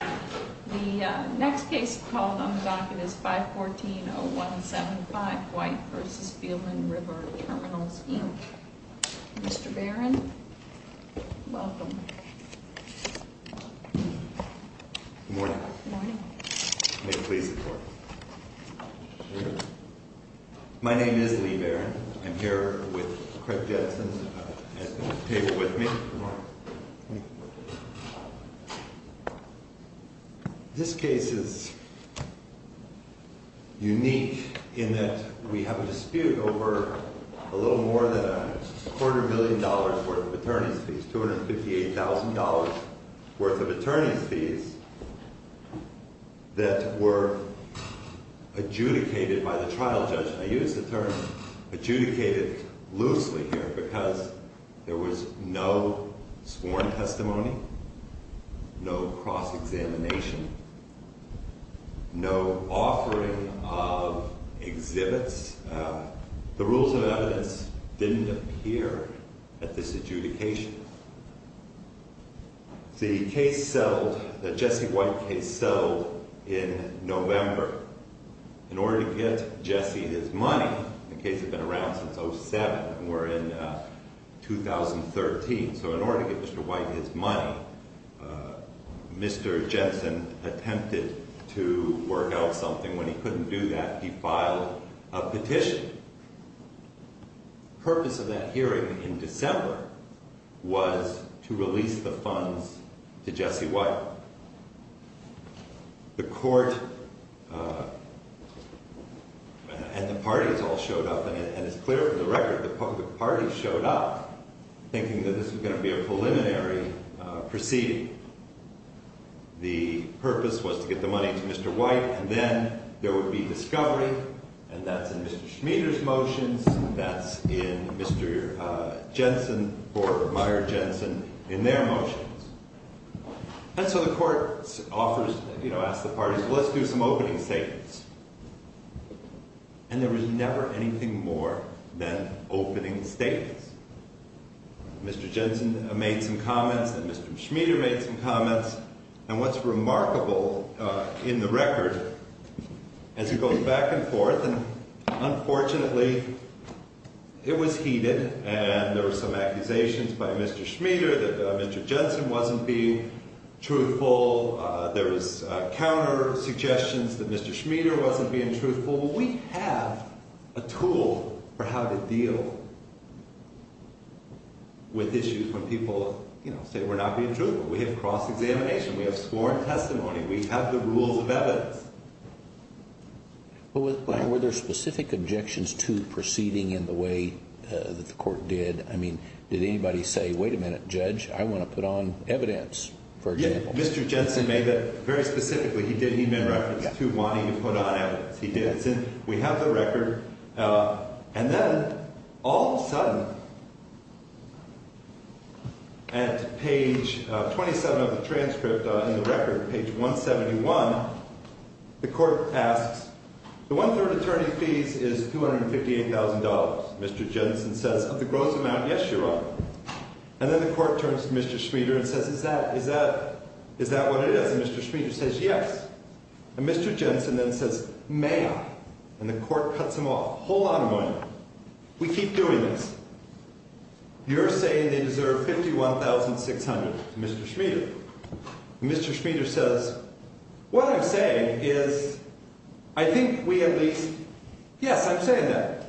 The next case called on the docket is 514-0175, White v. Beelman River Terminals, Inc. Mr. Barron, welcome. Good morning. May it please the Court. My name is Lee Barron. I'm here with Craig Jetson at the table with me. This case is unique in that we have a dispute over a little more than a quarter million dollars worth of attorney's fees, $258,000 worth of attorney's fees that were adjudicated by the trial judge. I use the term adjudicated loosely here because there was no sworn testimony, no cross-examination, no offering of exhibits. The rules of evidence didn't appear at this adjudication. The case settled, the Jesse White case settled in November. In order to get Jesse his money, the case had been around since 07, we're in 2013, so in order to get Mr. White his money, Mr. Jetson attempted to work out something. When he couldn't do that, he filed a petition. The purpose of that hearing in December was to release the funds to Jesse White. The Court and the parties all showed up, and it's clear from the record that the parties showed up thinking that this was going to be a preliminary proceeding. The purpose was to get the money to Mr. White, and then there would be discovery, and that's in Mr. Schmieder's motions, and that's in Mr. Jetson, or Meyer Jetson, in their motions. And so the Court offers, you know, asks the parties, well, let's do some opening statements. And there was never anything more than opening statements. Mr. Jetson made some comments, and Mr. Schmieder made some comments. And what's remarkable in the record, as it goes back and forth, and unfortunately, it was heated, and there were some accusations by Mr. Schmieder that Mr. Jetson wasn't being truthful. There was counter-suggestions that Mr. Schmieder wasn't being truthful. Well, we have a tool for how to deal with issues when people, you know, say we're not being truthful. We have cross-examination. We have sworn testimony. We have the rules of evidence. But were there specific objections to proceeding in the way that the Court did? I mean, did anybody say, wait a minute, Judge, I want to put on evidence, for example? Mr. Jetson made that very specifically. He didn't even reference to wanting to put on evidence. He did. So we have the record. And then, all of a sudden, at page 27 of the transcript, in the record, page 171, the Court asks, the one-third attorney fees is $258,000, Mr. Jetson says, of the gross amount, yes, Your Honor. And then the Court turns to Mr. Schmieder and says, is that what it is? And Mr. Schmieder says, yes. And Mr. Jetson then says, may I? And the Court cuts him off. Hold on a moment. We keep doing this. You're saying they deserve $51,600, Mr. Schmieder. And Mr. Schmieder says, what I'm saying is, I think we at least, yes, I'm saying that.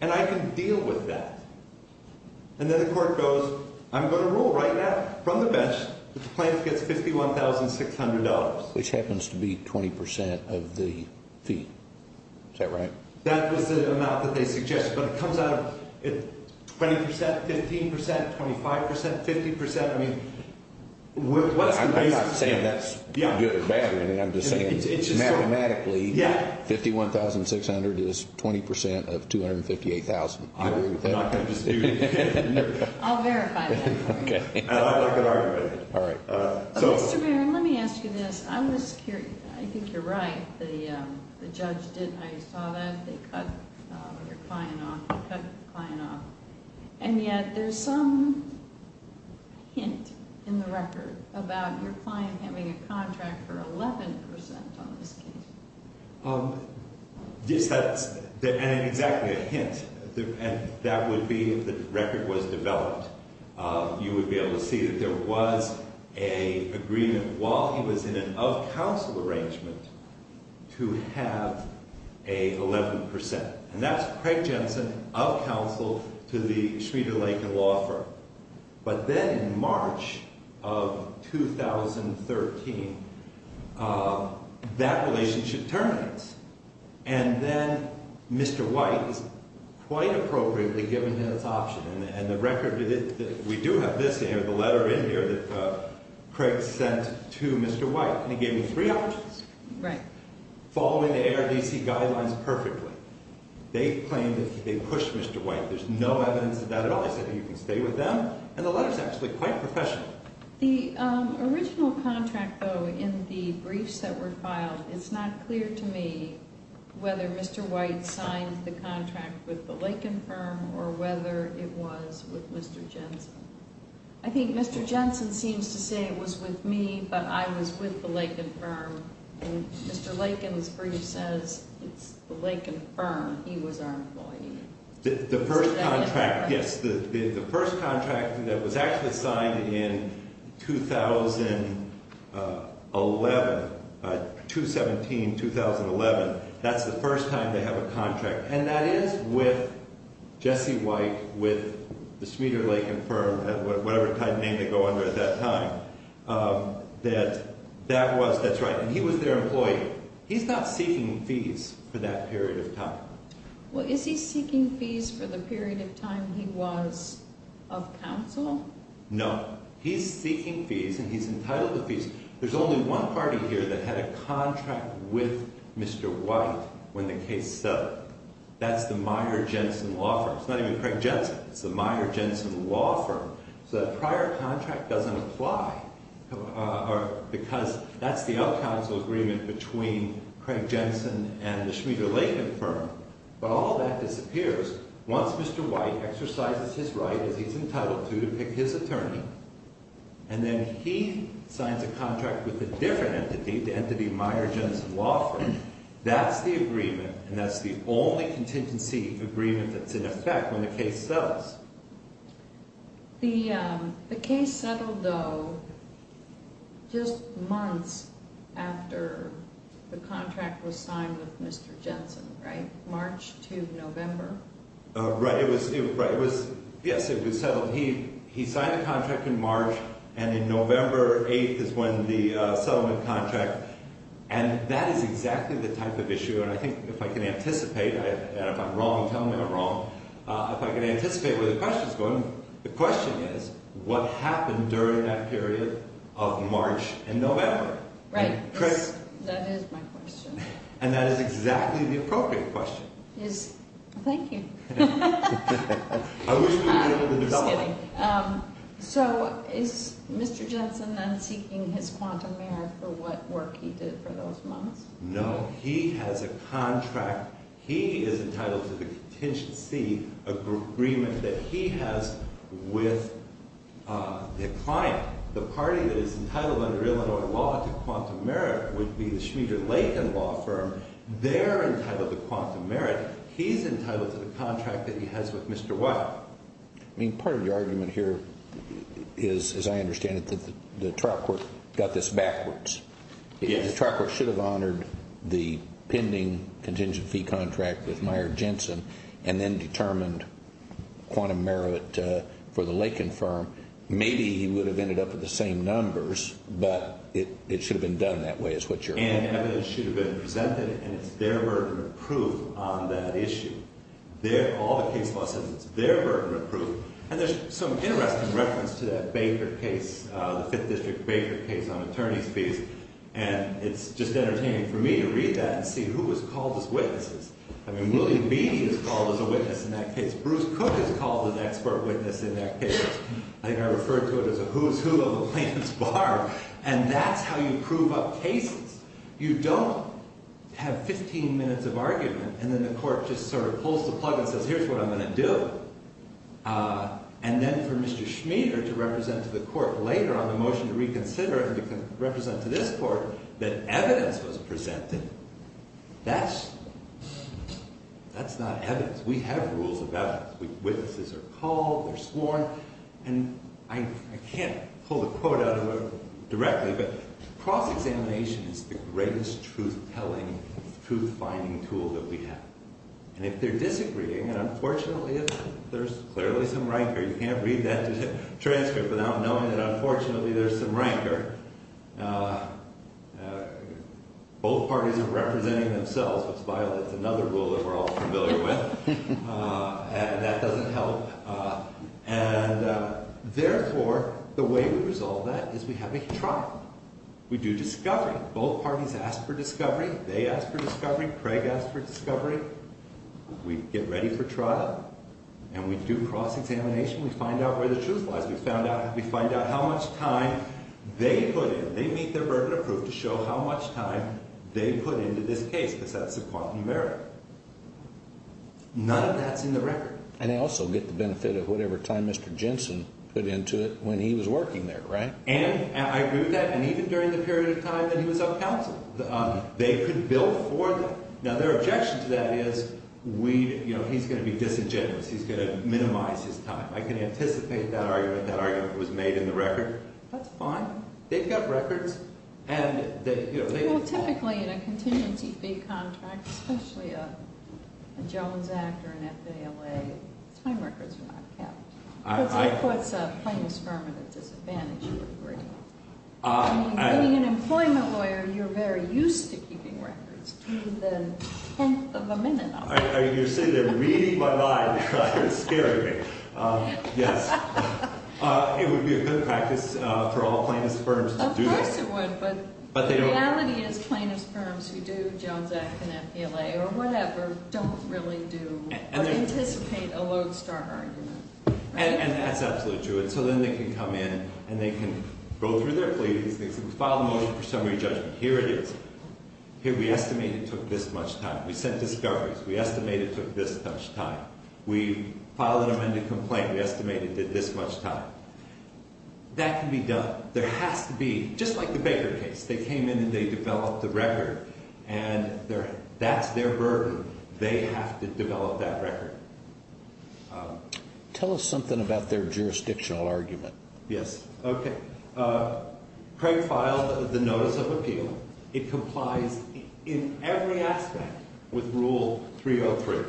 And I can deal with that. And then the Court goes, I'm going to rule right now from the bench that the plaintiff gets $51,600. Which happens to be 20% of the fee. Is that right? That was the amount that they suggested. But it comes out of 20%, 15%, 25%, 50%. I mean, what's the basis here? I'm not saying that's good or bad. I'm just saying mathematically, 51,600 is 20% of $258,000. I'll verify that. Okay. I like that argument. All right. Mr. Barron, let me ask you this. I was curious. I think you're right. The judge did, I saw that. They cut your client off. They cut the client off. And yet, there's some hint in the record about your client having a contract for 11% on this case. Yes, that's exactly a hint. And that would be, if the record was developed, you would be able to see that there was an agreement while he was in an of-counsel arrangement to have an 11%. And that's Craig Jensen, of-counsel to the Schmieder-Laken Law Firm. But then, in March of 2013, that relationship turns. And then, Mr. White is quite appropriately given his option. And the record, we do have this in here, the letter in here that Craig sent to Mr. White. And he gave him three options. Right. Following the ARDC guidelines perfectly. They claim that they pushed Mr. White. There's no evidence of that at all. So, you can stay with them. And the letter's actually quite professional. The original contract, though, in the briefs that were filed, it's not clear to me whether Mr. White signed the contract with the Laken Firm or whether it was with Mr. Jensen. I think Mr. Jensen seems to say it was with me, but I was with the Laken Firm. And Mr. Laken's brief says it's the Laken Firm. He was our employee. The first contract, yes. The first contract that was actually signed in 2011, 2-17-2011, that's the first time they have a contract. And that is with Jesse White, with the Schmieder-Laken Firm, whatever kind of name they go under at that time. That that was, that's right. And he was their employee. He's not seeking fees for that period of time. Well, is he seeking fees for the period of time he was of counsel? No. He's seeking fees, and he's entitled to fees. There's only one party here that had a contract with Mr. White when the case settled. That's the Meyer-Jensen Law Firm. It's not even Craig Jensen. It's the Meyer-Jensen Law Firm. So the prior contract doesn't apply because that's the out-counsel agreement between Craig Jensen and the Schmieder-Laken Firm. But all that disappears once Mr. White exercises his right, as he's entitled to, to pick his attorney. And then he signs a contract with a different entity, the entity Meyer-Jensen Law Firm. That's the agreement, and that's the only contingency agreement that's in effect when the case settles. The case settled, though, just months after the contract was signed with Mr. Jensen, right? March to November? Right. It was, yes, it was settled. He signed the contract in March, and in November 8th is when the settlement contract. And that is exactly the type of issue, and I think if I can anticipate, and if I'm wrong, tell me I'm wrong, if I can anticipate where the question's going, the question is, what happened during that period of March and November? Right. Chris? That is my question. And that is exactly the appropriate question. Yes, thank you. I wish we could get into the development. Just kidding. So is Mr. Jensen then seeking his quantum merit for what work he did for those months? No, he has a contract. He is entitled to the contingency agreement that he has with the client. The party that is entitled under Illinois law to quantum merit would be the Schmieder-Lagan Law Firm. They're entitled to quantum merit. He's entitled to the contract that he has with Mr. White. I mean, part of your argument here is, as I understand it, that the trial court got this backwards. Yes. The trial court should have honored the pending contingent fee contract with Meijer-Jensen and then determined quantum merit for the Lagan Firm. Maybe he would have ended up with the same numbers, but it should have been done that way is what you're arguing. And evidence should have been presented, and it's their burden of proof on that issue. All the case law sentences, it's their burden of proof. And there's some interesting reference to that Baker case, the Fifth District Baker case on attorney's fees, and it's just entertaining for me to read that and see who was called as witnesses. I mean, William B. is called as a witness in that case. Bruce Cook is called an expert witness in that case. I think I referred to it as a who's who of a Lance Barb, and that's how you prove up cases. You don't have 15 minutes of argument, and then the court just sort of pulls the plug and says, here's what I'm going to do, and then for Mr. Schmieder to represent to the court later on the motion to reconsider and to represent to this court that evidence was presented. That's not evidence. We have rules of evidence. Witnesses are called, they're sworn, and I can't pull the quote out of it directly, but cross-examination is the greatest truth-telling, truth-finding tool that we have. And if they're disagreeing, and unfortunately there's clearly some rancor. You can't read that transcript without knowing that unfortunately there's some rancor. Both parties are representing themselves, which violates another rule that we're all familiar with, and that doesn't help. And therefore, the way we resolve that is we have a trial. We do discovery. Both parties ask for discovery. They ask for discovery. Craig asks for discovery. We get ready for trial, and we do cross-examination. We find out where the truth lies. We find out how much time they put in. They meet their burden of proof to show how much time they put into this case because that's the quantum of merit. None of that's in the record. And they also get the benefit of whatever time Mr. Jensen put into it when he was working there, right? And I agree with that. And even during the period of time that he was up counsel, they could bill for them. Now, their objection to that is, you know, he's going to be disingenuous. He's going to minimize his time. I can anticipate that argument. That argument was made in the record. That's fine. They've got records. Well, typically in a contingency fee contract, especially a Jones Act or an FALA, time records are not kept. It puts a plaintiff's firm at a disadvantage. I mean, being an employment lawyer, you're very used to keeping records. Do the tenth of a minute of it. You're saying they're reading my mind. You're scaring me. Yes. It would be a good practice for all plaintiff's firms to do this. Yes, it would. But the reality is plaintiff's firms who do Jones Act and FALA or whatever don't really do or anticipate a lodestar argument. And that's absolutely true. And so then they can come in and they can go through their pleadings and file a motion for summary judgment. Here it is. Here we estimate it took this much time. We sent discoveries. We estimate it took this much time. We filed an amended complaint. We estimate it did this much time. That can be done. There has to be, just like the Baker case, they came in and they developed the record. And that's their burden. They have to develop that record. Tell us something about their jurisdictional argument. Yes. Okay. Craig filed the notice of appeal. It complies in every aspect with Rule 303.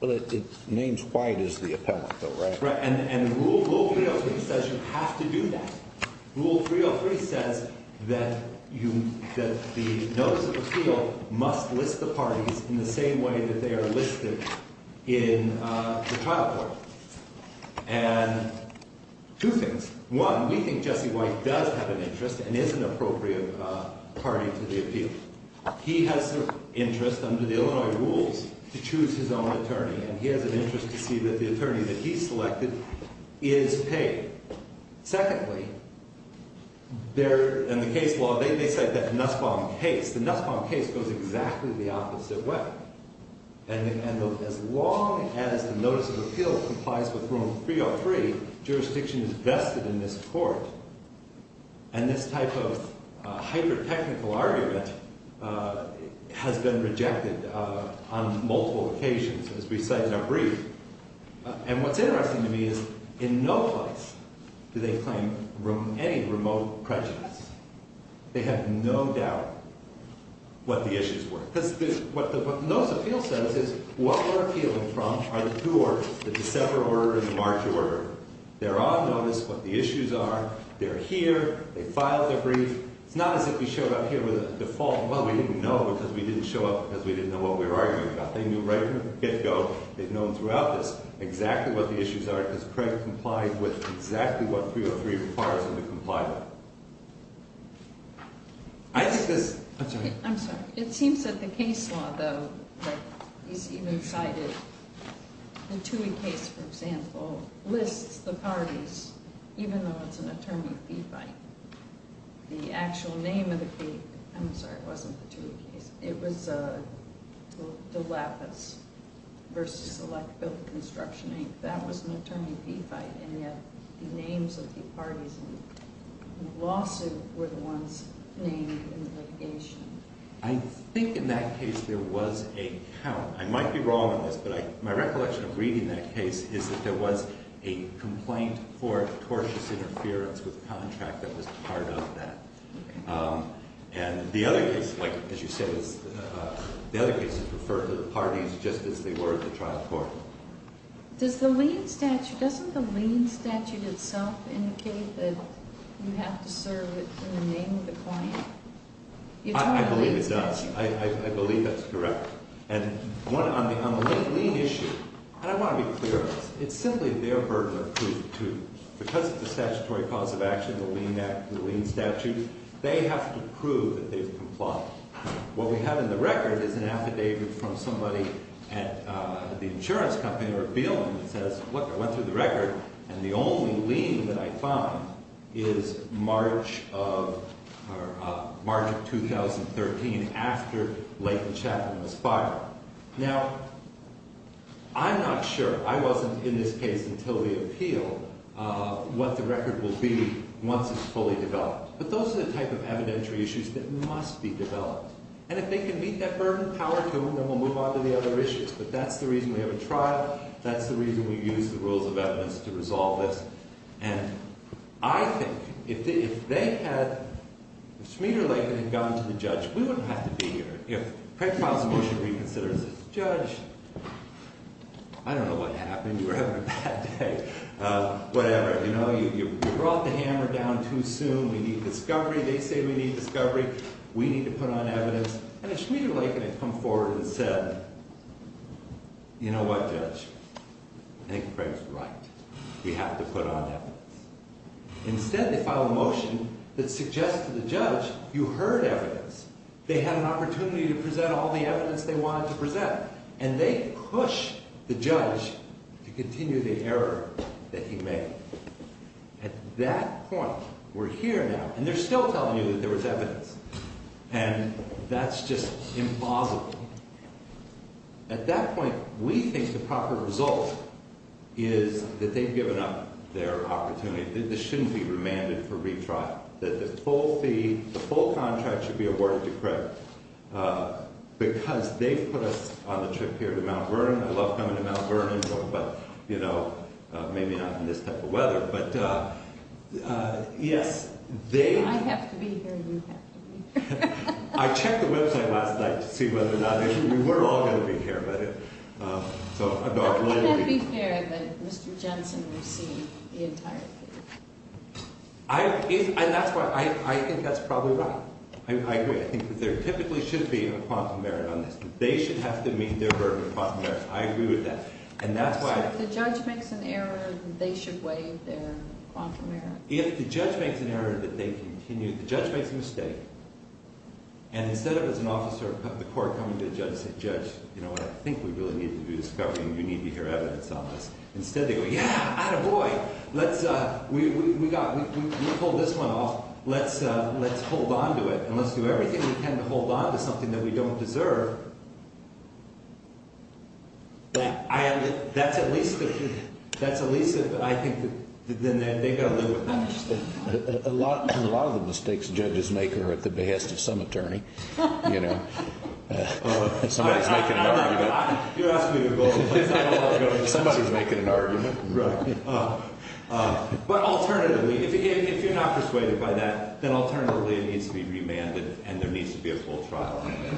Well, it names White as the appellant though, right? Right. And Rule 303 says you have to do that. Rule 303 says that the notice of appeal must list the parties in the same way that they are listed in the trial court. And two things. One, we think Jesse White does have an interest and is an appropriate party to the appeal. He has an interest under the Illinois rules to choose his own attorney. And he has an interest to see that the attorney that he selected is paid. Secondly, in the case law, they cite that Nussbaum case. The Nussbaum case goes exactly the opposite way. And as long as the notice of appeal complies with Rule 303, jurisdiction is vested in this court. And this type of hyper-technical argument has been rejected on multiple occasions, as we cite in our brief. And what's interesting to me is in no place do they claim any remote prejudice. They have no doubt what the issues were. Because what the notice of appeal says is what we're appealing from are the two orders, the December order and the March order. They're on notice what the issues are. They're here. They filed their brief. It's not as if we showed up here with a default. Well, we didn't know because we didn't show up because we didn't know what we were arguing about. They knew right from the get-go, they've known throughout this, exactly what the issues are. Because Craig complied with exactly what 303 requires him to comply with. I think this... I'm sorry. I'm sorry. It seems that the case law, though, that he's even cited, the Toohey case, for example, lists the parties, even though it's an attorney-fee fight. The actual name of the case... I'm sorry, it wasn't the Toohey case. It was De Lapis v. Electability Construction Inc. That was an attorney-fee fight, and yet the names of the parties in the lawsuit were the ones named in the litigation. I think in that case there was a count. I might be wrong on this, but my recollection of reading that case is that there was a complaint for tortious interference with the contract that was part of that. And the other case, as you said, the other case is referred to the parties just as they were at the trial court. Does the lien statute, doesn't the lien statute itself indicate that you have to serve it in the name of the client? I believe it does. I believe that's correct. And on the lien issue, and I want to be clear on this, it's simply their burden of proof, too. Because of the statutory cause of action, the lien statute, they have to prove that they've complied. What we have in the record is an affidavit from somebody at the insurance company or a billing that says, Look, I went through the record, and the only lien that I found is March of 2013, after Layton Chapman was fired. Now, I'm not sure, I wasn't in this case until the appeal, what the record will be once it's fully developed. But those are the type of evidentiary issues that must be developed. And if they can beat that burden, power to them, then we'll move on to the other issues. But that's the reason we have a trial. That's the reason we use the rules of evidence to resolve this. And I think if Schmieder-Layton had gone to the judge, we wouldn't have to be here. If Craig filed a motion to reconsider and said, Judge, I don't know what happened. You were having a bad day. Whatever, you brought the hammer down too soon. We need discovery. They say we need discovery. We need to put on evidence. And if Schmieder-Layton had come forward and said, You know what, Judge? I think Craig's right. We have to put on evidence. Instead, they file a motion that suggests to the judge, You heard evidence. They had an opportunity to present all the evidence they wanted to present. And they push the judge to continue the error that he made. At that point, we're here now. And they're still telling you that there was evidence. And that's just impossible. At that point, we think the proper result is that they've given up their opportunity. This shouldn't be remanded for retrial. That the full fee, the full contract should be awarded to Craig. Because they've put us on the trip here to Mount Vernon. I love coming to Mount Vernon, but, you know, maybe not in this type of weather. But, yes, they've I have to be here. You have to be here. I checked the website last night to see whether or not we were all going to be here. So, I'm not going to be here. You can't be here, but Mr. Jensen received the entire fee. And that's why I think that's probably right. I agree. I think that there typically should be a quantum merit on this. They should have to meet their burden of quantum merit. I agree with that. And that's why So, if the judge makes an error, they should waive their quantum merit? If the judge makes an error, that they continue The judge makes a mistake. And instead of, as an officer of the court, coming to the judge and saying, Judge, you know what, I think we really need to do this covering. You need to hear evidence on this. Instead, they go, yeah, attaboy. Let's, we pulled this one off. Let's hold on to it. And let's do everything we can to hold on to something that we don't deserve. That's at least, that's at least, I think, then they've got to live with that. A lot of the mistakes judges make are at the behest of some attorney. You know. Somebody's making an argument. You're asking me to go. Somebody's making an argument. Right. But alternatively, if you're not persuaded by that, then alternatively it needs to be remanded and there needs to be a full trial on it.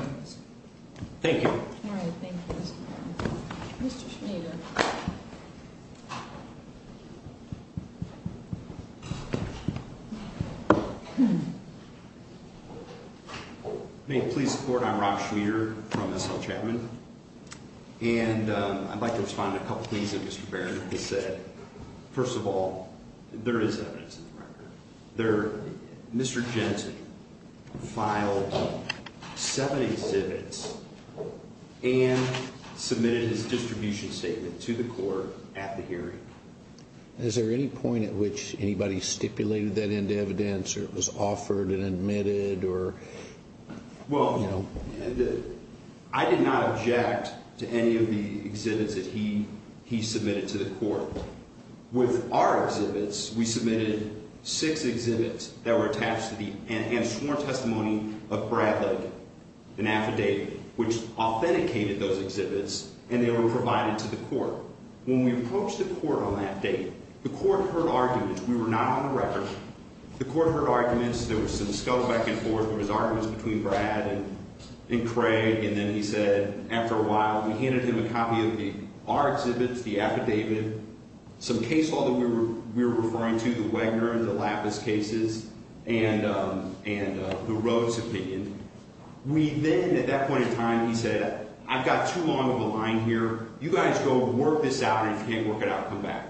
Thank you. All right. Thank you, Mr. Baird. Mr. Schneider. May it please the court, I'm Rob Schneider from S.L. Chapman. And I'd like to respond to a couple of things that Mr. Baird has said. First of all, there is evidence in the record. Mr. Jensen filed seven exhibits and submitted his distribution statement to the court at the hearing. Is there any point at which anybody stipulated that end evidence or it was offered and admitted or? Well, I did not object to any of the exhibits that he submitted to the court. With our exhibits, we submitted six exhibits that were attached to the sworn testimony of Brad Lake, an affidavit, which authenticated those exhibits, and they were provided to the court. When we approached the court on that date, the court heard arguments. We were not on the record. The court heard arguments. There was some scuffle back and forth. There was arguments between Brad and Craig. And then he said, after a while, we handed him a copy of our exhibits, the affidavit, some case law that we were referring to, the Wagner and the Lapis cases, and the Rhodes opinion. We then, at that point in time, he said, I've got too long of a line here. You guys go work this out, and if you can't work it out, come back.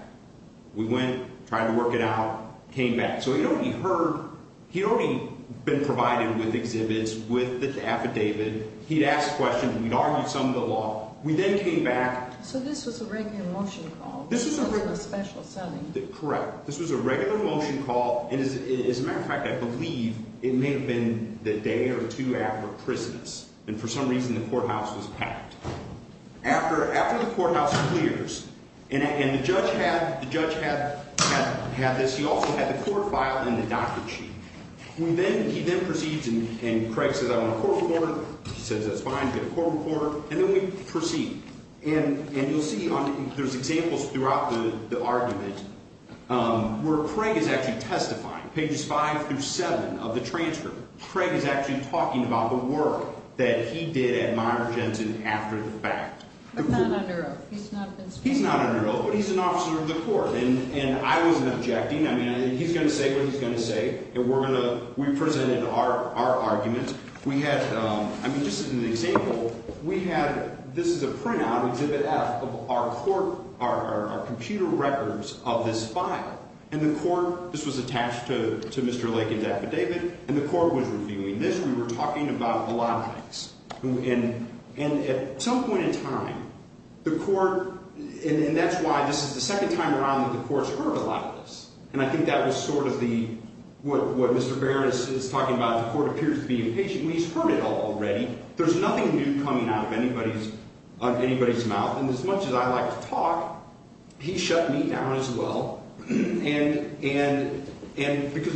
We went, tried to work it out, came back. So he'd already heard, he'd already been provided with exhibits, with the affidavit. He'd asked questions. We'd argued some of the law. We then came back. So this was a regular motion call. This wasn't a special selling. Correct. This was a regular motion call. And as a matter of fact, I believe it may have been the day or two after Christmas, and for some reason the courthouse was packed. After the courthouse clears, and the judge had this, he also had the court file and the doctor sheet. He then proceeds, and Craig says, I want a court report. He says, that's fine, get a court report. And then we proceed. And you'll see there's examples throughout the argument where Craig is actually testifying. Pages 5 through 7 of the transfer, Craig is actually talking about the work that he did at Meyer Jensen after the fact. He's not under oath. He's not under oath, but he's an officer of the court. And I wasn't objecting. I mean, he's going to say what he's going to say, and we presented our argument. We had, I mean, just as an example, we had, this is a printout, Exhibit F, of our court, our computer records of this file. And the court, this was attached to Mr. Lakin's affidavit, and the court was reviewing this. We were talking about a lot of things. And at some point in time, the court, and that's why this is the second time around that the court's heard a lot of this. And I think that was sort of the, what Mr. Barron is talking about, the court appears to be impatient. I mean, he's heard it all already. There's nothing new coming out of anybody's mouth. And as much as I like to talk, he shut me down as well because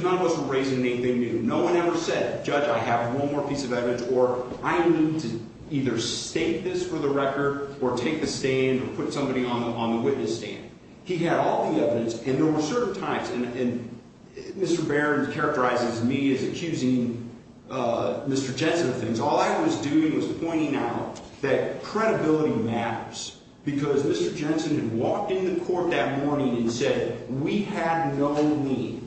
none of us were raising anything new. No one ever said, Judge, I have one more piece of evidence, or I need to either state this for the record or take the stand or put somebody on the witness stand. He had all the evidence, and there were certain times, and Mr. Barron characterizes me as accusing Mr. Jensen of things. All I was doing was pointing out that credibility matters because Mr. Jensen had walked into court that morning and said we had no need,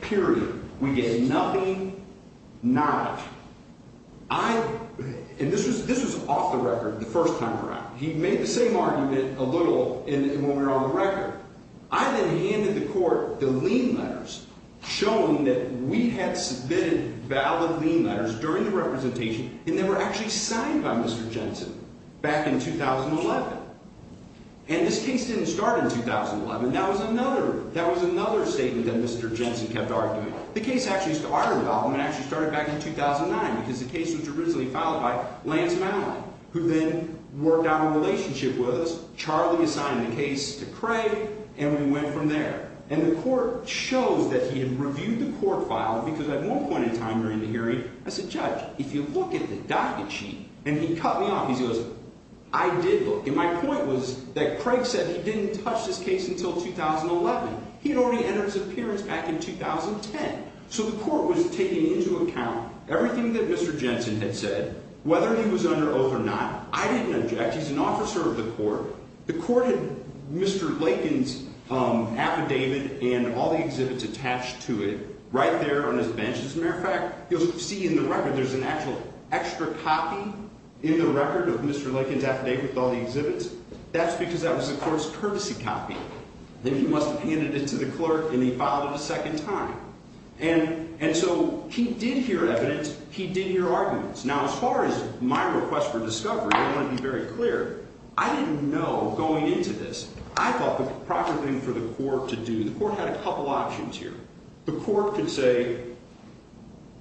period. We get nothing, not. I, and this was off the record the first time around. He made the same argument a little when we were on the record. I then handed the court the lien letters showing that we had submitted valid lien letters during the representation and they were actually signed by Mr. Jensen back in 2011. And this case didn't start in 2011. That was another statement that Mr. Jensen kept arguing. The case actually started back in 2009 because the case was originally filed by Lance Mallon, who then worked out a relationship with us. Charlie assigned the case to Craig, and we went from there. And the court shows that he had reviewed the court file because at one point in time during the hearing, I said, Judge, if you look at the docket sheet, and he cut me off. He goes, I did look, and my point was that Craig said he didn't touch this case until 2011. He had already entered his appearance back in 2010. So the court was taking into account everything that Mr. Jensen had said, whether he was under oath or not. I didn't object. He's an officer of the court. The court had Mr. Lakin's affidavit and all the exhibits attached to it right there on his bench. As a matter of fact, you'll see in the record there's an actual extra copy in the record of Mr. Lakin's affidavit with all the exhibits. That's because that was the court's courtesy copy. Then he must have handed it to the clerk, and he filed it a second time. And so he did hear evidence. He did hear arguments. Now, as far as my request for discovery, I want to be very clear. I didn't know going into this. I thought the proper thing for the court to do, the court had a couple options here. The court could say,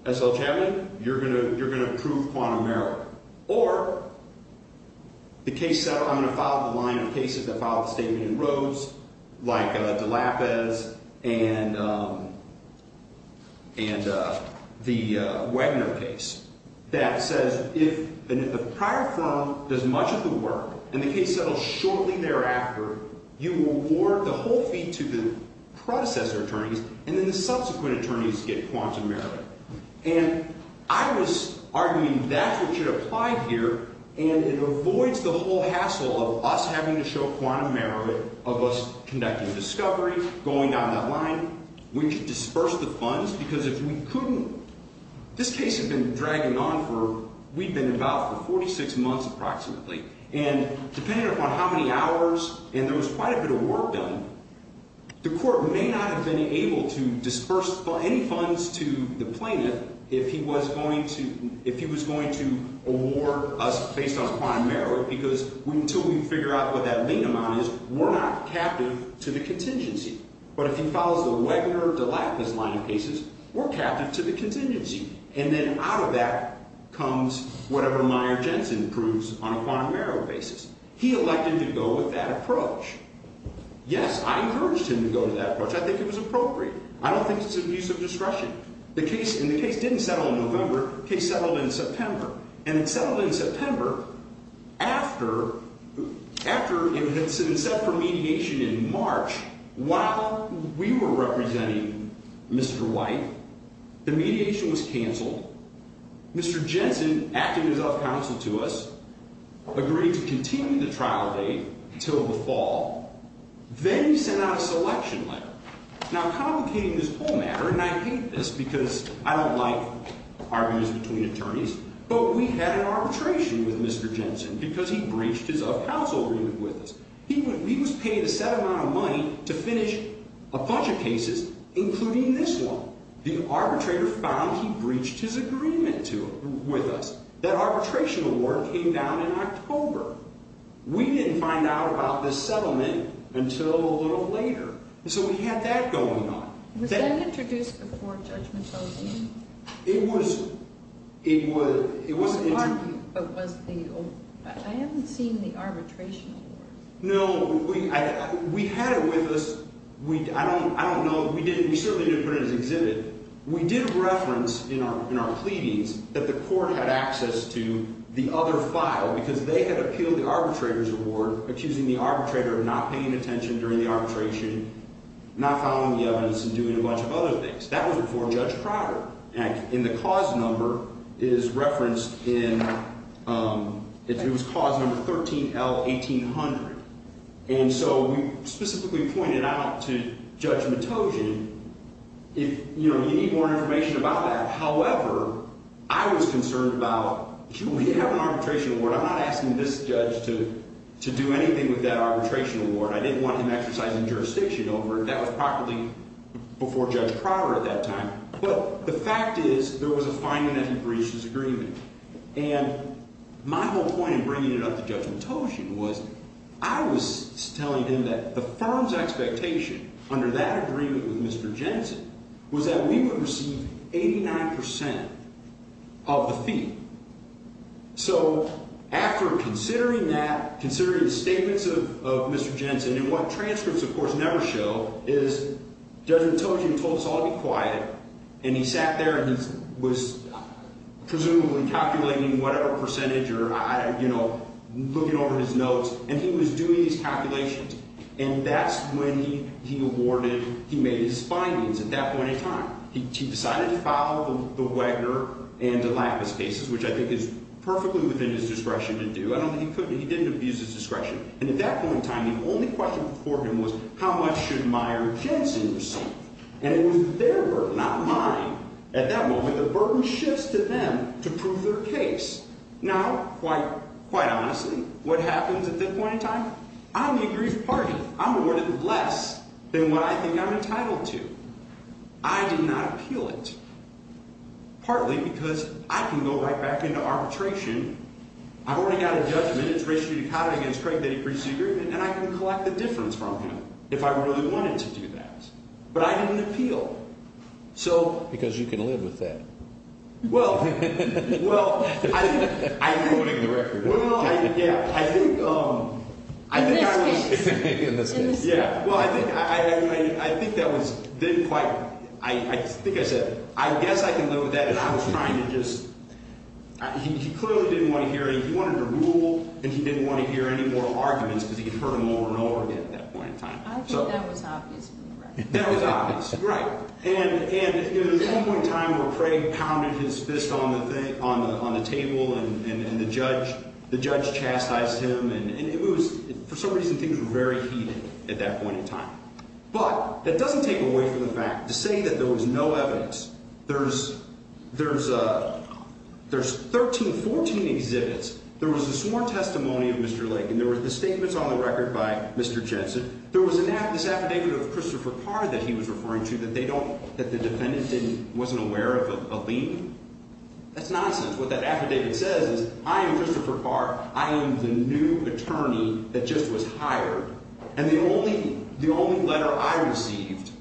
S.L. Chapman, you're going to prove quantum error. Or the case settler, I'm going to file the line of cases that filed the statement in Rhodes, like DeLapez and the Wagner case, that says if a prior firm does much of the work and the case settles shortly thereafter, you reward the whole fee to the predecessor attorneys, and then the subsequent attorneys get quantum error. And I was arguing that's what should apply here, and it avoids the whole hassle of us having to show quantum error of us conducting discovery, going down that line. We should disperse the funds, because if we couldn't, this case had been dragging on for, we'd been involved for 46 months approximately. And depending upon how many hours and there was quite a bit of work done, the court may not have been able to disperse any funds to the plaintiff if he was going to award us based on quantum error, because until we figure out what that mean amount is, we're not captive to the contingency. But if he files the Wagner, DeLapez line of cases, we're captive to the contingency. And then out of that comes whatever Meyer Jensen proves on a quantum error basis. He elected to go with that approach. Yes, I encouraged him to go to that approach. I think it was appropriate. I don't think it's an abuse of discretion. The case didn't settle in November. The case settled in September. And it settled in September after it had set for mediation in March. While we were representing Mr. White, the mediation was canceled. Mr. Jensen acted as a counsel to us, agreed to continue the trial date until the fall. Then he sent out a selection letter. Now, complicating this whole matter, and I hate this because I don't like arguments between attorneys, but we had an arbitration with Mr. Jensen because he breached his up-counsel agreement with us. He was paid a set amount of money to finish a bunch of cases, including this one. The arbitrator found he breached his agreement with us. That arbitration award came down in October. We didn't find out about this settlement until a little later. And so we had that going on. Was that introduced before judgment fell in? It was. It wasn't argued, but was the old. I haven't seen the arbitration award. No, we had it with us. I don't know. We certainly didn't put it in his exhibit. We did reference in our pleadings that the court had access to the other file because they had appealed the arbitrator's award, accusing the arbitrator of not paying attention during the arbitration, not following the evidence, and doing a bunch of other things. That was before Judge Prater. And the cause number is referenced in – it was cause number 13L1800. And so we specifically pointed out to Judge Matogian, you know, you need more information about that. However, I was concerned about, gee, we have an arbitration award. I'm not asking this judge to do anything with that arbitration award. I didn't want him exercising jurisdiction over it. That was properly before Judge Prater at that time. But the fact is there was a finding that he breached his agreement. And my whole point in bringing it up to Judge Matogian was I was telling him that the firm's expectation under that agreement with Mr. Jensen was that we would receive 89 percent of the fee. So after considering that, considering the statements of Mr. Jensen, and what transcripts, of course, never show is Judge Matogian told us all to be quiet, and he sat there and he was presumably calculating whatever percentage or, you know, looking over his notes, and he was doing these calculations. And that's when he awarded, he made his findings at that point in time. He decided to file the Wegener and DeLapis cases, which I think is perfectly within his discretion to do. I don't think he couldn't. He didn't abuse his discretion. And at that point in time, the only question before him was how much should Meyer-Jensen receive? And it was their burden, not mine. At that moment, the burden shifts to them to prove their case. Now, quite honestly, what happens at that point in time? I'm the aggrieved party. I'm awarded less than what I think I'm entitled to. I did not appeal it, partly because I can go right back into arbitration. I've already got a judgment. It's racially decoded against Craig that he agrees to the agreement, and I can collect the difference from him if I really wanted to do that. But I didn't appeal. Because you can live with that. Well, I think I can live with that. He clearly didn't want to hear it. He wanted to rule, and he didn't want to hear any more arguments because he could hurt him over and over again at that point in time. I think that was obvious from the record. That was obvious. Right. And at one point in time where Craig pounded his fist on the table and the judge chastised him, and for some reason things were very heated at that point in time. But that doesn't take away from the fact to say that there was no evidence. There's 13, 14 exhibits. There was a sworn testimony of Mr. Lagan. There were the statements on the record by Mr. Jensen. There was this affidavit of Christopher Carr that he was referring to that the defendant wasn't aware of a lien. That's nonsense. What that affidavit says is I am Christopher Carr. I am the new attorney that just was hired, and the only letter I received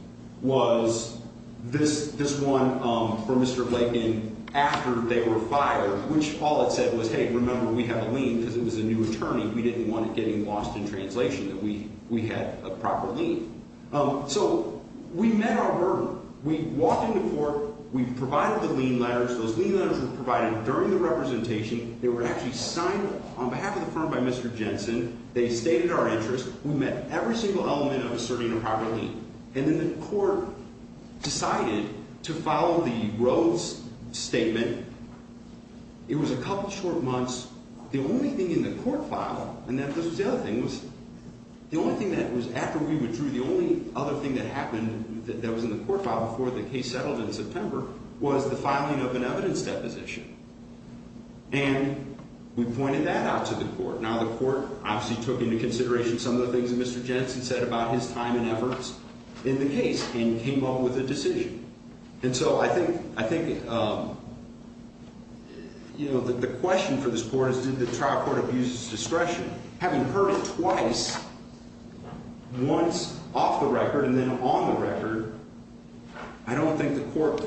was this one from Mr. Lagan after they were fired, which all it said was, hey, remember, we have a lien because it was a new attorney. We didn't want it getting lost in translation that we had a proper lien. So we met our burden. We walked into court. We provided the lien letters. Those lien letters were provided during the representation. They were actually signed on behalf of the firm by Mr. Jensen. They stated our interest. We met every single element of asserting a proper lien. And then the court decided to follow the Rhodes statement. It was a couple short months. The only thing in the court file, and this was the other thing, was the only thing that was after we withdrew, the only other thing that happened that was in the court file before the case settled in September, was the filing of an evidence deposition. And we pointed that out to the court. Now the court obviously took into consideration some of the things that Mr. Jensen said about his time and efforts in the case and came up with a decision. And so I think, you know, the question for this court is did the trial court abuse its discretion? Having heard it twice, once off the record and then on the record, I don't think the court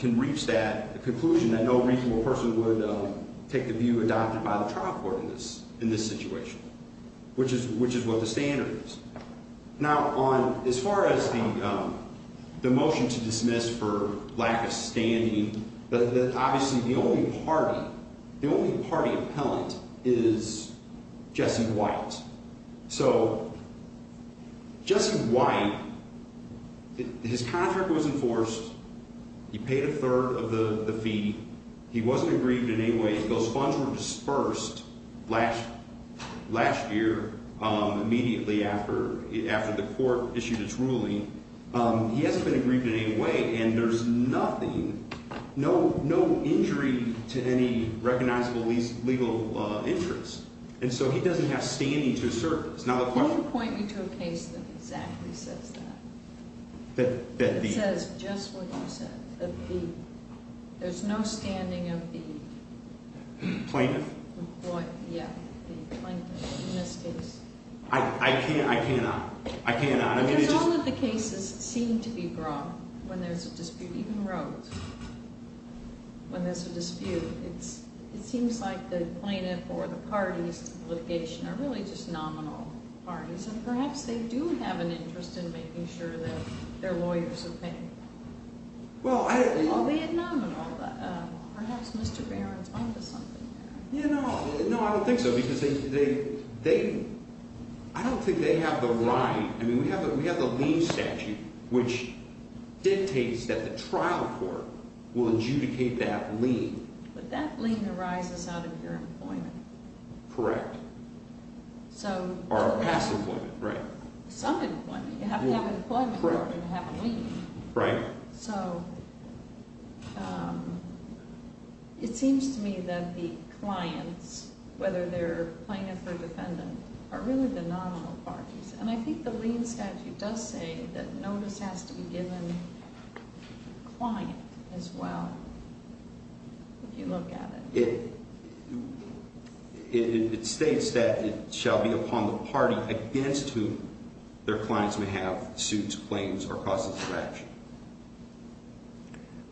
can reach that conclusion that no reasonable person would take the view adopted by the trial court in this situation, which is what the standard is. Now as far as the motion to dismiss for lack of standing, obviously the only party appellant is Jesse White. So Jesse White, his contract was enforced. He paid a third of the fee. He wasn't aggrieved in any way. Those funds were dispersed last year immediately after the court issued its ruling. He hasn't been aggrieved in any way. And there's nothing, no injury to any recognizable legal interest. And so he doesn't have standing to assert this. Can you point me to a case that exactly says that, that says just what you said, there's no standing of the plaintiff? Yeah, the plaintiff in this case. I cannot. I cannot. Because all of the cases seem to be brought when there's a dispute, even Rhodes, when there's a dispute. It seems like the plaintiff or the parties to the litigation are really just nominal parties, and perhaps they do have an interest in making sure that their lawyers are paying. Well, I— Well, they're nominal. Perhaps Mr. Barron's on to something there. Yeah, no. No, I don't think so, because they—I don't think they have the right. I mean, we have the lien statute, which dictates that the trial court will adjudicate that lien. But that lien arises out of your employment. Correct. So— Or past employment, right. Some employment. You have to have employment in order to have a lien. Right. So, it seems to me that the clients, whether they're plaintiff or defendant, are really the nominal parties. And I think the lien statute does say that notice has to be given to the client as well, if you look at it. It states that it shall be upon the party against whom their clients may have suits, claims, or causes of action.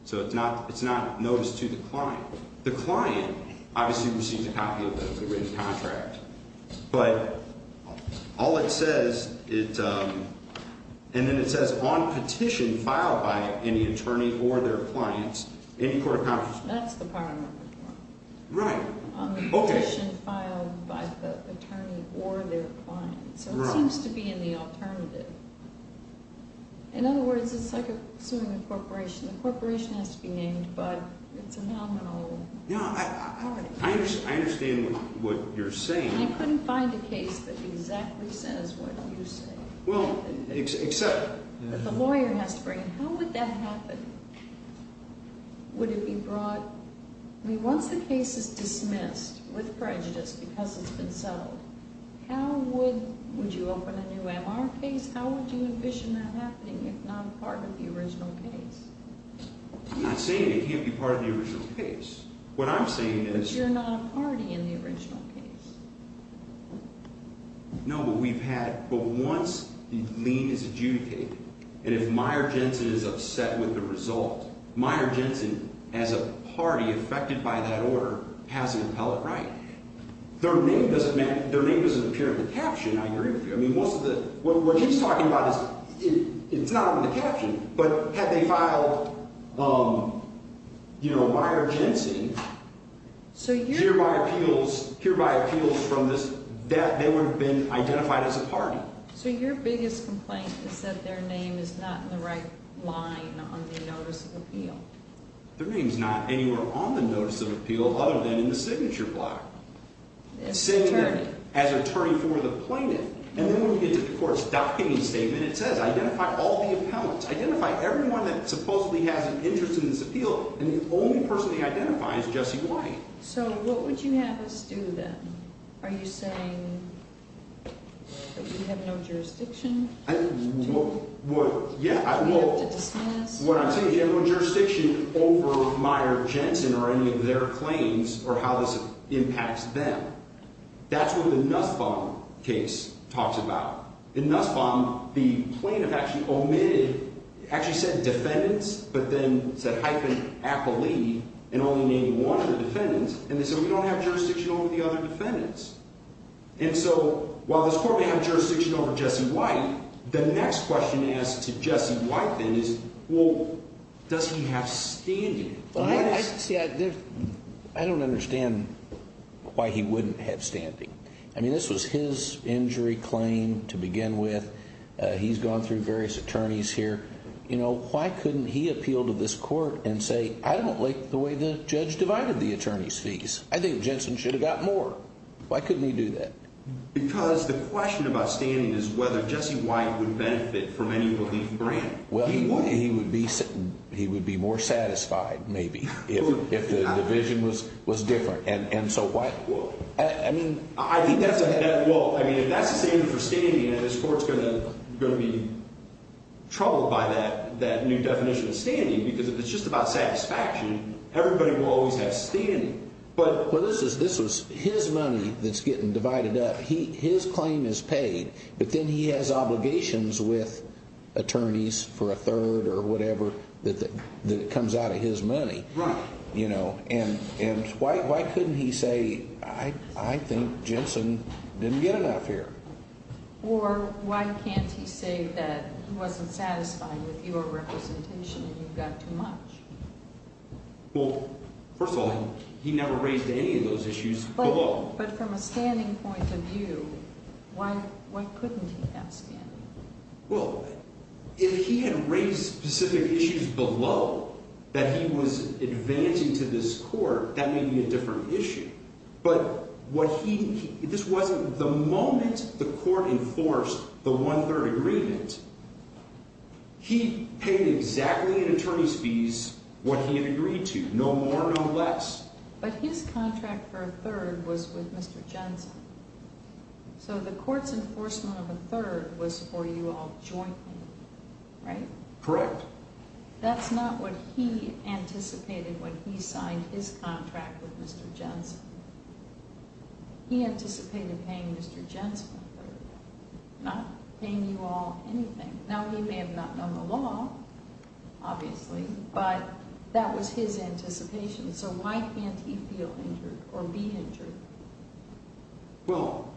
So, it's not notice to the client. The client obviously receives a copy of the written contract. But all it says, it—and then it says, on petition filed by any attorney or their clients, any court of— That's the part I'm looking for. Right. On the petition filed by the attorney or their clients. So, it seems to be in the alternative. In other words, it's like suing a corporation. The corporation has to be named, but it's a nominal party. I understand what you're saying. I couldn't find a case that exactly says what you say. Well, except— The lawyer has to bring it. How would that happen? Would it be brought—I mean, once the case is dismissed with prejudice because it's been settled, how would—would you open a new MR case? How would you envision that happening if not part of the original case? I'm not saying it can't be part of the original case. What I'm saying is— But you're not a party in the original case. No, but we've had—but once the lien is adjudicated, and if Meijer Jensen is upset with the result, Meijer Jensen, as a party affected by that order, has an appellate right. Their name doesn't appear in the caption on your interview. I mean, most of the—what he's talking about is—it's not on the caption, but had they filed, you know, Meijer Jensen, hereby appeals from this—they would have been identified as a party. So your biggest complaint is that their name is not in the right line on the notice of appeal. Their name's not anywhere on the notice of appeal other than in the signature block. As attorney. As attorney for the plaintiff. And then when we get to the court's docketing statement, it says identify all the appellants. Identify everyone that supposedly has an interest in this appeal, and the only person they identify is Jesse White. So what would you have us do then? Are you saying that we have no jurisdiction? What—yeah, well— Do we have to dismiss? What I'm saying is you have no jurisdiction over Meijer Jensen or any of their claims or how this impacts them. That's what the Nussbaum case talks about. In Nussbaum, the plaintiff actually omitted—actually said defendants, but then said hyphen appellee and only named one of the defendants, and they said we don't have jurisdiction over the other defendants. And so while this court may have jurisdiction over Jesse White, the next question asked to Jesse White then is, well, does he have standing? See, I don't understand why he wouldn't have standing. I mean, this was his injury claim to begin with. He's gone through various attorneys here. You know, why couldn't he appeal to this court and say, I don't like the way the judge divided the attorney's fees? I think Jensen should have got more. Why couldn't he do that? Because the question about standing is whether Jesse White would benefit from any relief grant. Well, he would be more satisfied maybe if the division was different. And so why—I mean— I think that's a—well, I mean, if that's the standard for standing, then this court's going to be troubled by that new definition of standing because if it's just about satisfaction, everybody will always have standing. But— Well, this was his money that's getting divided up. His claim is paid, but then he has obligations with attorneys for a third or whatever that comes out of his money. Right. And why couldn't he say, I think Jensen didn't get enough here? Or why can't he say that he wasn't satisfied with your representation and you got too much? Well, first of all, he never raised any of those issues below. But from a standing point of view, why couldn't he have standing? Well, if he had raised specific issues below that he was advancing to this court, that may be a different issue. But what he—this wasn't—the moment the court enforced the one-third agreement, he paid exactly in attorney's fees what he had agreed to, no more, no less. But his contract for a third was with Mr. Jensen. So the court's enforcement of a third was for you all jointly, right? Correct. That's not what he anticipated when he signed his contract with Mr. Jensen. He anticipated paying Mr. Jensen a third, not paying you all anything. Now, he may have not known the law, obviously, but that was his anticipation. So why can't he feel injured or be injured? Well,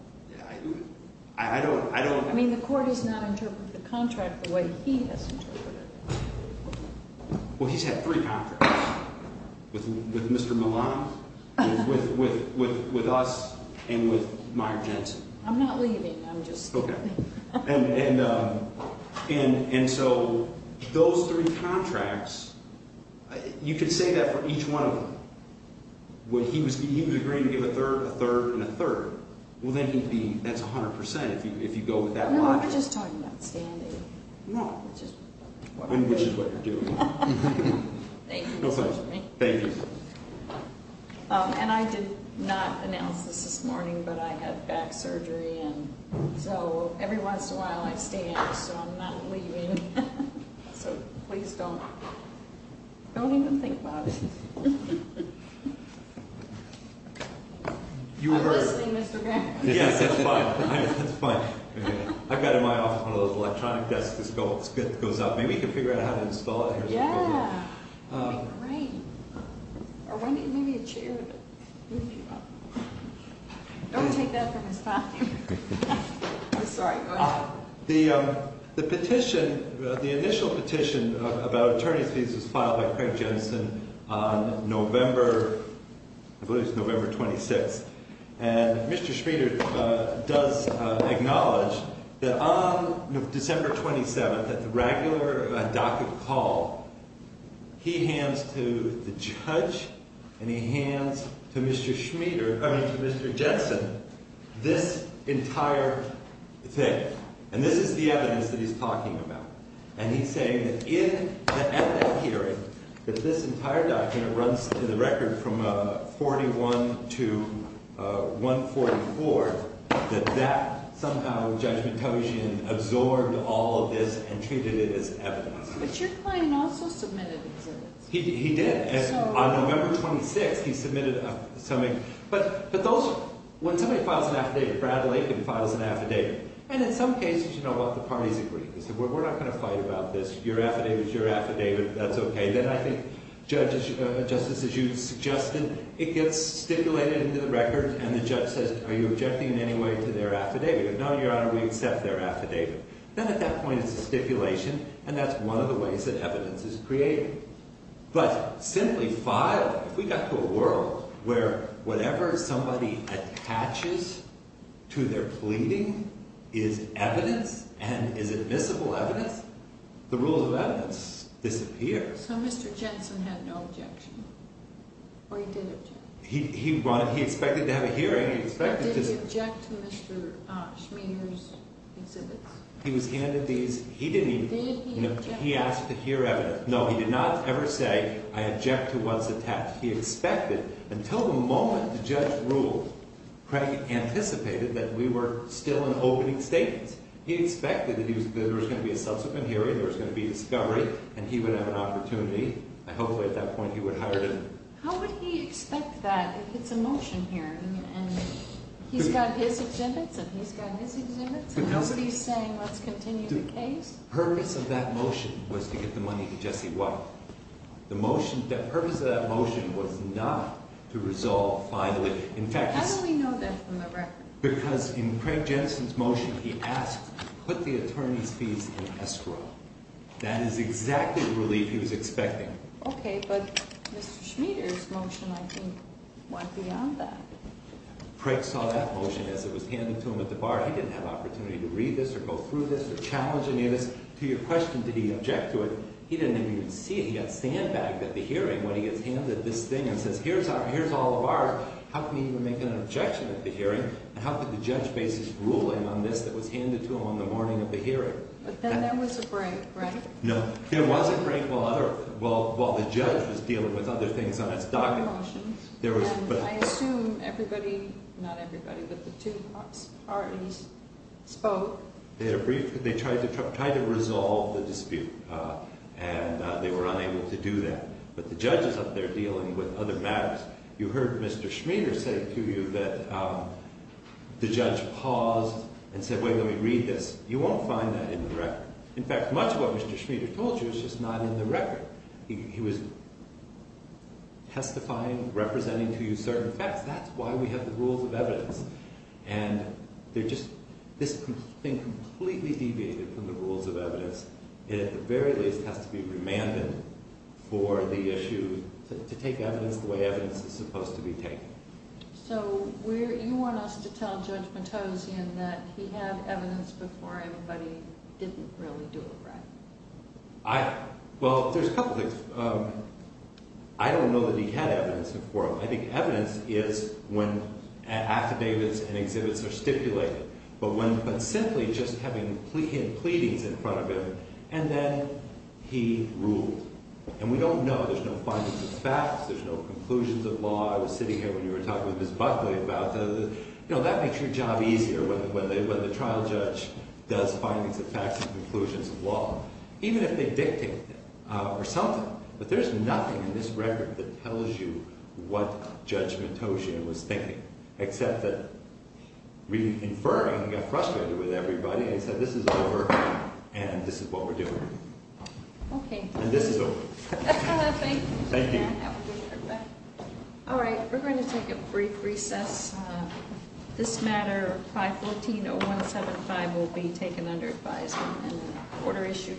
I don't— I mean, the court has not interpreted the contract the way he has interpreted it. Well, he's had three contracts, with Mr. Milan, with us, and with Meyer Jensen. I'm not leaving. I'm just— And so those three contracts, you could say that for each one of them. He was agreeing to give a third, a third, and a third. Well, then he'd be—that's 100 percent if you go with that logic. No, we're just talking about standing. No. Which is what you're doing. Thank you for listening to me. Thank you. And I did not announce this this morning, but I had back surgery. And so every once in a while, I stay out, so I'm not leaving. So please don't even think about it. I'm listening, Mr. Graham. Yes, that's fine. That's fine. I've got in my office one of those electronic desks that goes up. Maybe you can figure out how to install it. Yeah, that'd be great. Or maybe a chair would move you up. Don't take that from his time. I'm sorry. Go ahead. The petition, the initial petition about attorney's fees was filed by Craig Jensen on November—I believe it was November 26th. And Mr. Schmieder does acknowledge that on December 27th at the regular docket call, he hands to the judge and he hands to Mr. Schmieder—I mean to Mr. Jensen this entire thing. And this is the evidence that he's talking about. And he's saying that at that hearing, that this entire document runs in the record from 41 to 144, that that somehow Judge Mutojian absorbed all of this and treated it as evidence. But your client also submitted exhibits. He did. On November 26th, he submitted something. But those—when somebody files an affidavit, Brad Lakin files an affidavit. And in some cases, you know, both the parties agree. They say, we're not going to fight about this. Your affidavit's your affidavit. That's okay. Then I think, Justice, as you suggested, it gets stipulated into the record and the judge says, are you objecting in any way to their affidavit? No, Your Honor, we accept their affidavit. Then at that point, it's a stipulation. And that's one of the ways that evidence is created. But simply filed, if we got to a world where whatever somebody attaches to their pleading is evidence and is admissible evidence, the rules of evidence disappear. So Mr. Jensen had no objection. Or he did object. He expected to have a hearing. But did he object to Mr. Schmeier's exhibits? He was handed these. Did he object? He asked to hear evidence. No, he did not ever say, I object to what's attached. He expected. Until the moment the judge ruled, Craig anticipated that we were still in opening statements. He expected that there was going to be a subsequent hearing. There was going to be a discovery. And he would have an opportunity. I hope at that point he would hire him. How would he expect that? It's a motion hearing. And he's got his exhibits and he's got his exhibits. And he's saying, let's continue the case? The purpose of that motion was to get the money to Jesse White. The purpose of that motion was not to resolve finally. How do we know that from the record? Because in Craig Jensen's motion, he asked, put the attorney's fees in escrow. That is exactly the relief he was expecting. Okay, but Mr. Schmeier's motion, I think, went beyond that. Craig saw that motion as it was handed to him at the bar. He didn't have an opportunity to read this or go through this or challenge any of this. To your question, did he object to it, he didn't even see it. He got sandbagged at the hearing when he gets handed this thing and says, here's all of ours. How can he even make an objection at the hearing? And how could the judge base his ruling on this that was handed to him on the morning of the hearing? But then there was a break, right? No, there was a break while the judge was dealing with other things on his document. I assume everybody, not everybody, but the two parties spoke. They tried to resolve the dispute, and they were unable to do that. But the judge is up there dealing with other matters. You heard Mr. Schmeier say to you that the judge paused and said, wait, let me read this. You won't find that in the record. In fact, much of what Mr. Schmeier told you is just not in the record. He was testifying, representing to you certain facts. That's why we have the rules of evidence. And this thing completely deviated from the rules of evidence. It at the very least has to be remanded for the issue to take evidence the way evidence is supposed to be taken. So you want us to tell Judge Matozian that he had evidence before everybody didn't really do it, right? Well, there's a couple things. I don't know that he had evidence before. I think evidence is when affidavits and exhibits are stipulated, but simply just having him pleadings in front of him, and then he ruled. And we don't know. There's no findings of facts. There's no conclusions of law. I was sitting here when you were talking with Ms. Buckley about that. Well, that makes your job easier when the trial judge does findings of facts and conclusions of law, even if they dictate it or something. But there's nothing in this record that tells you what Judge Matozian was thinking, except that we infer he got frustrated with everybody and said, this is over, and this is what we're doing. Okay. And this is over. Thank you. Thank you. That would be perfect. All right, we're going to take a brief recess. This matter, 514-0175, will be taken under advisement and order issued.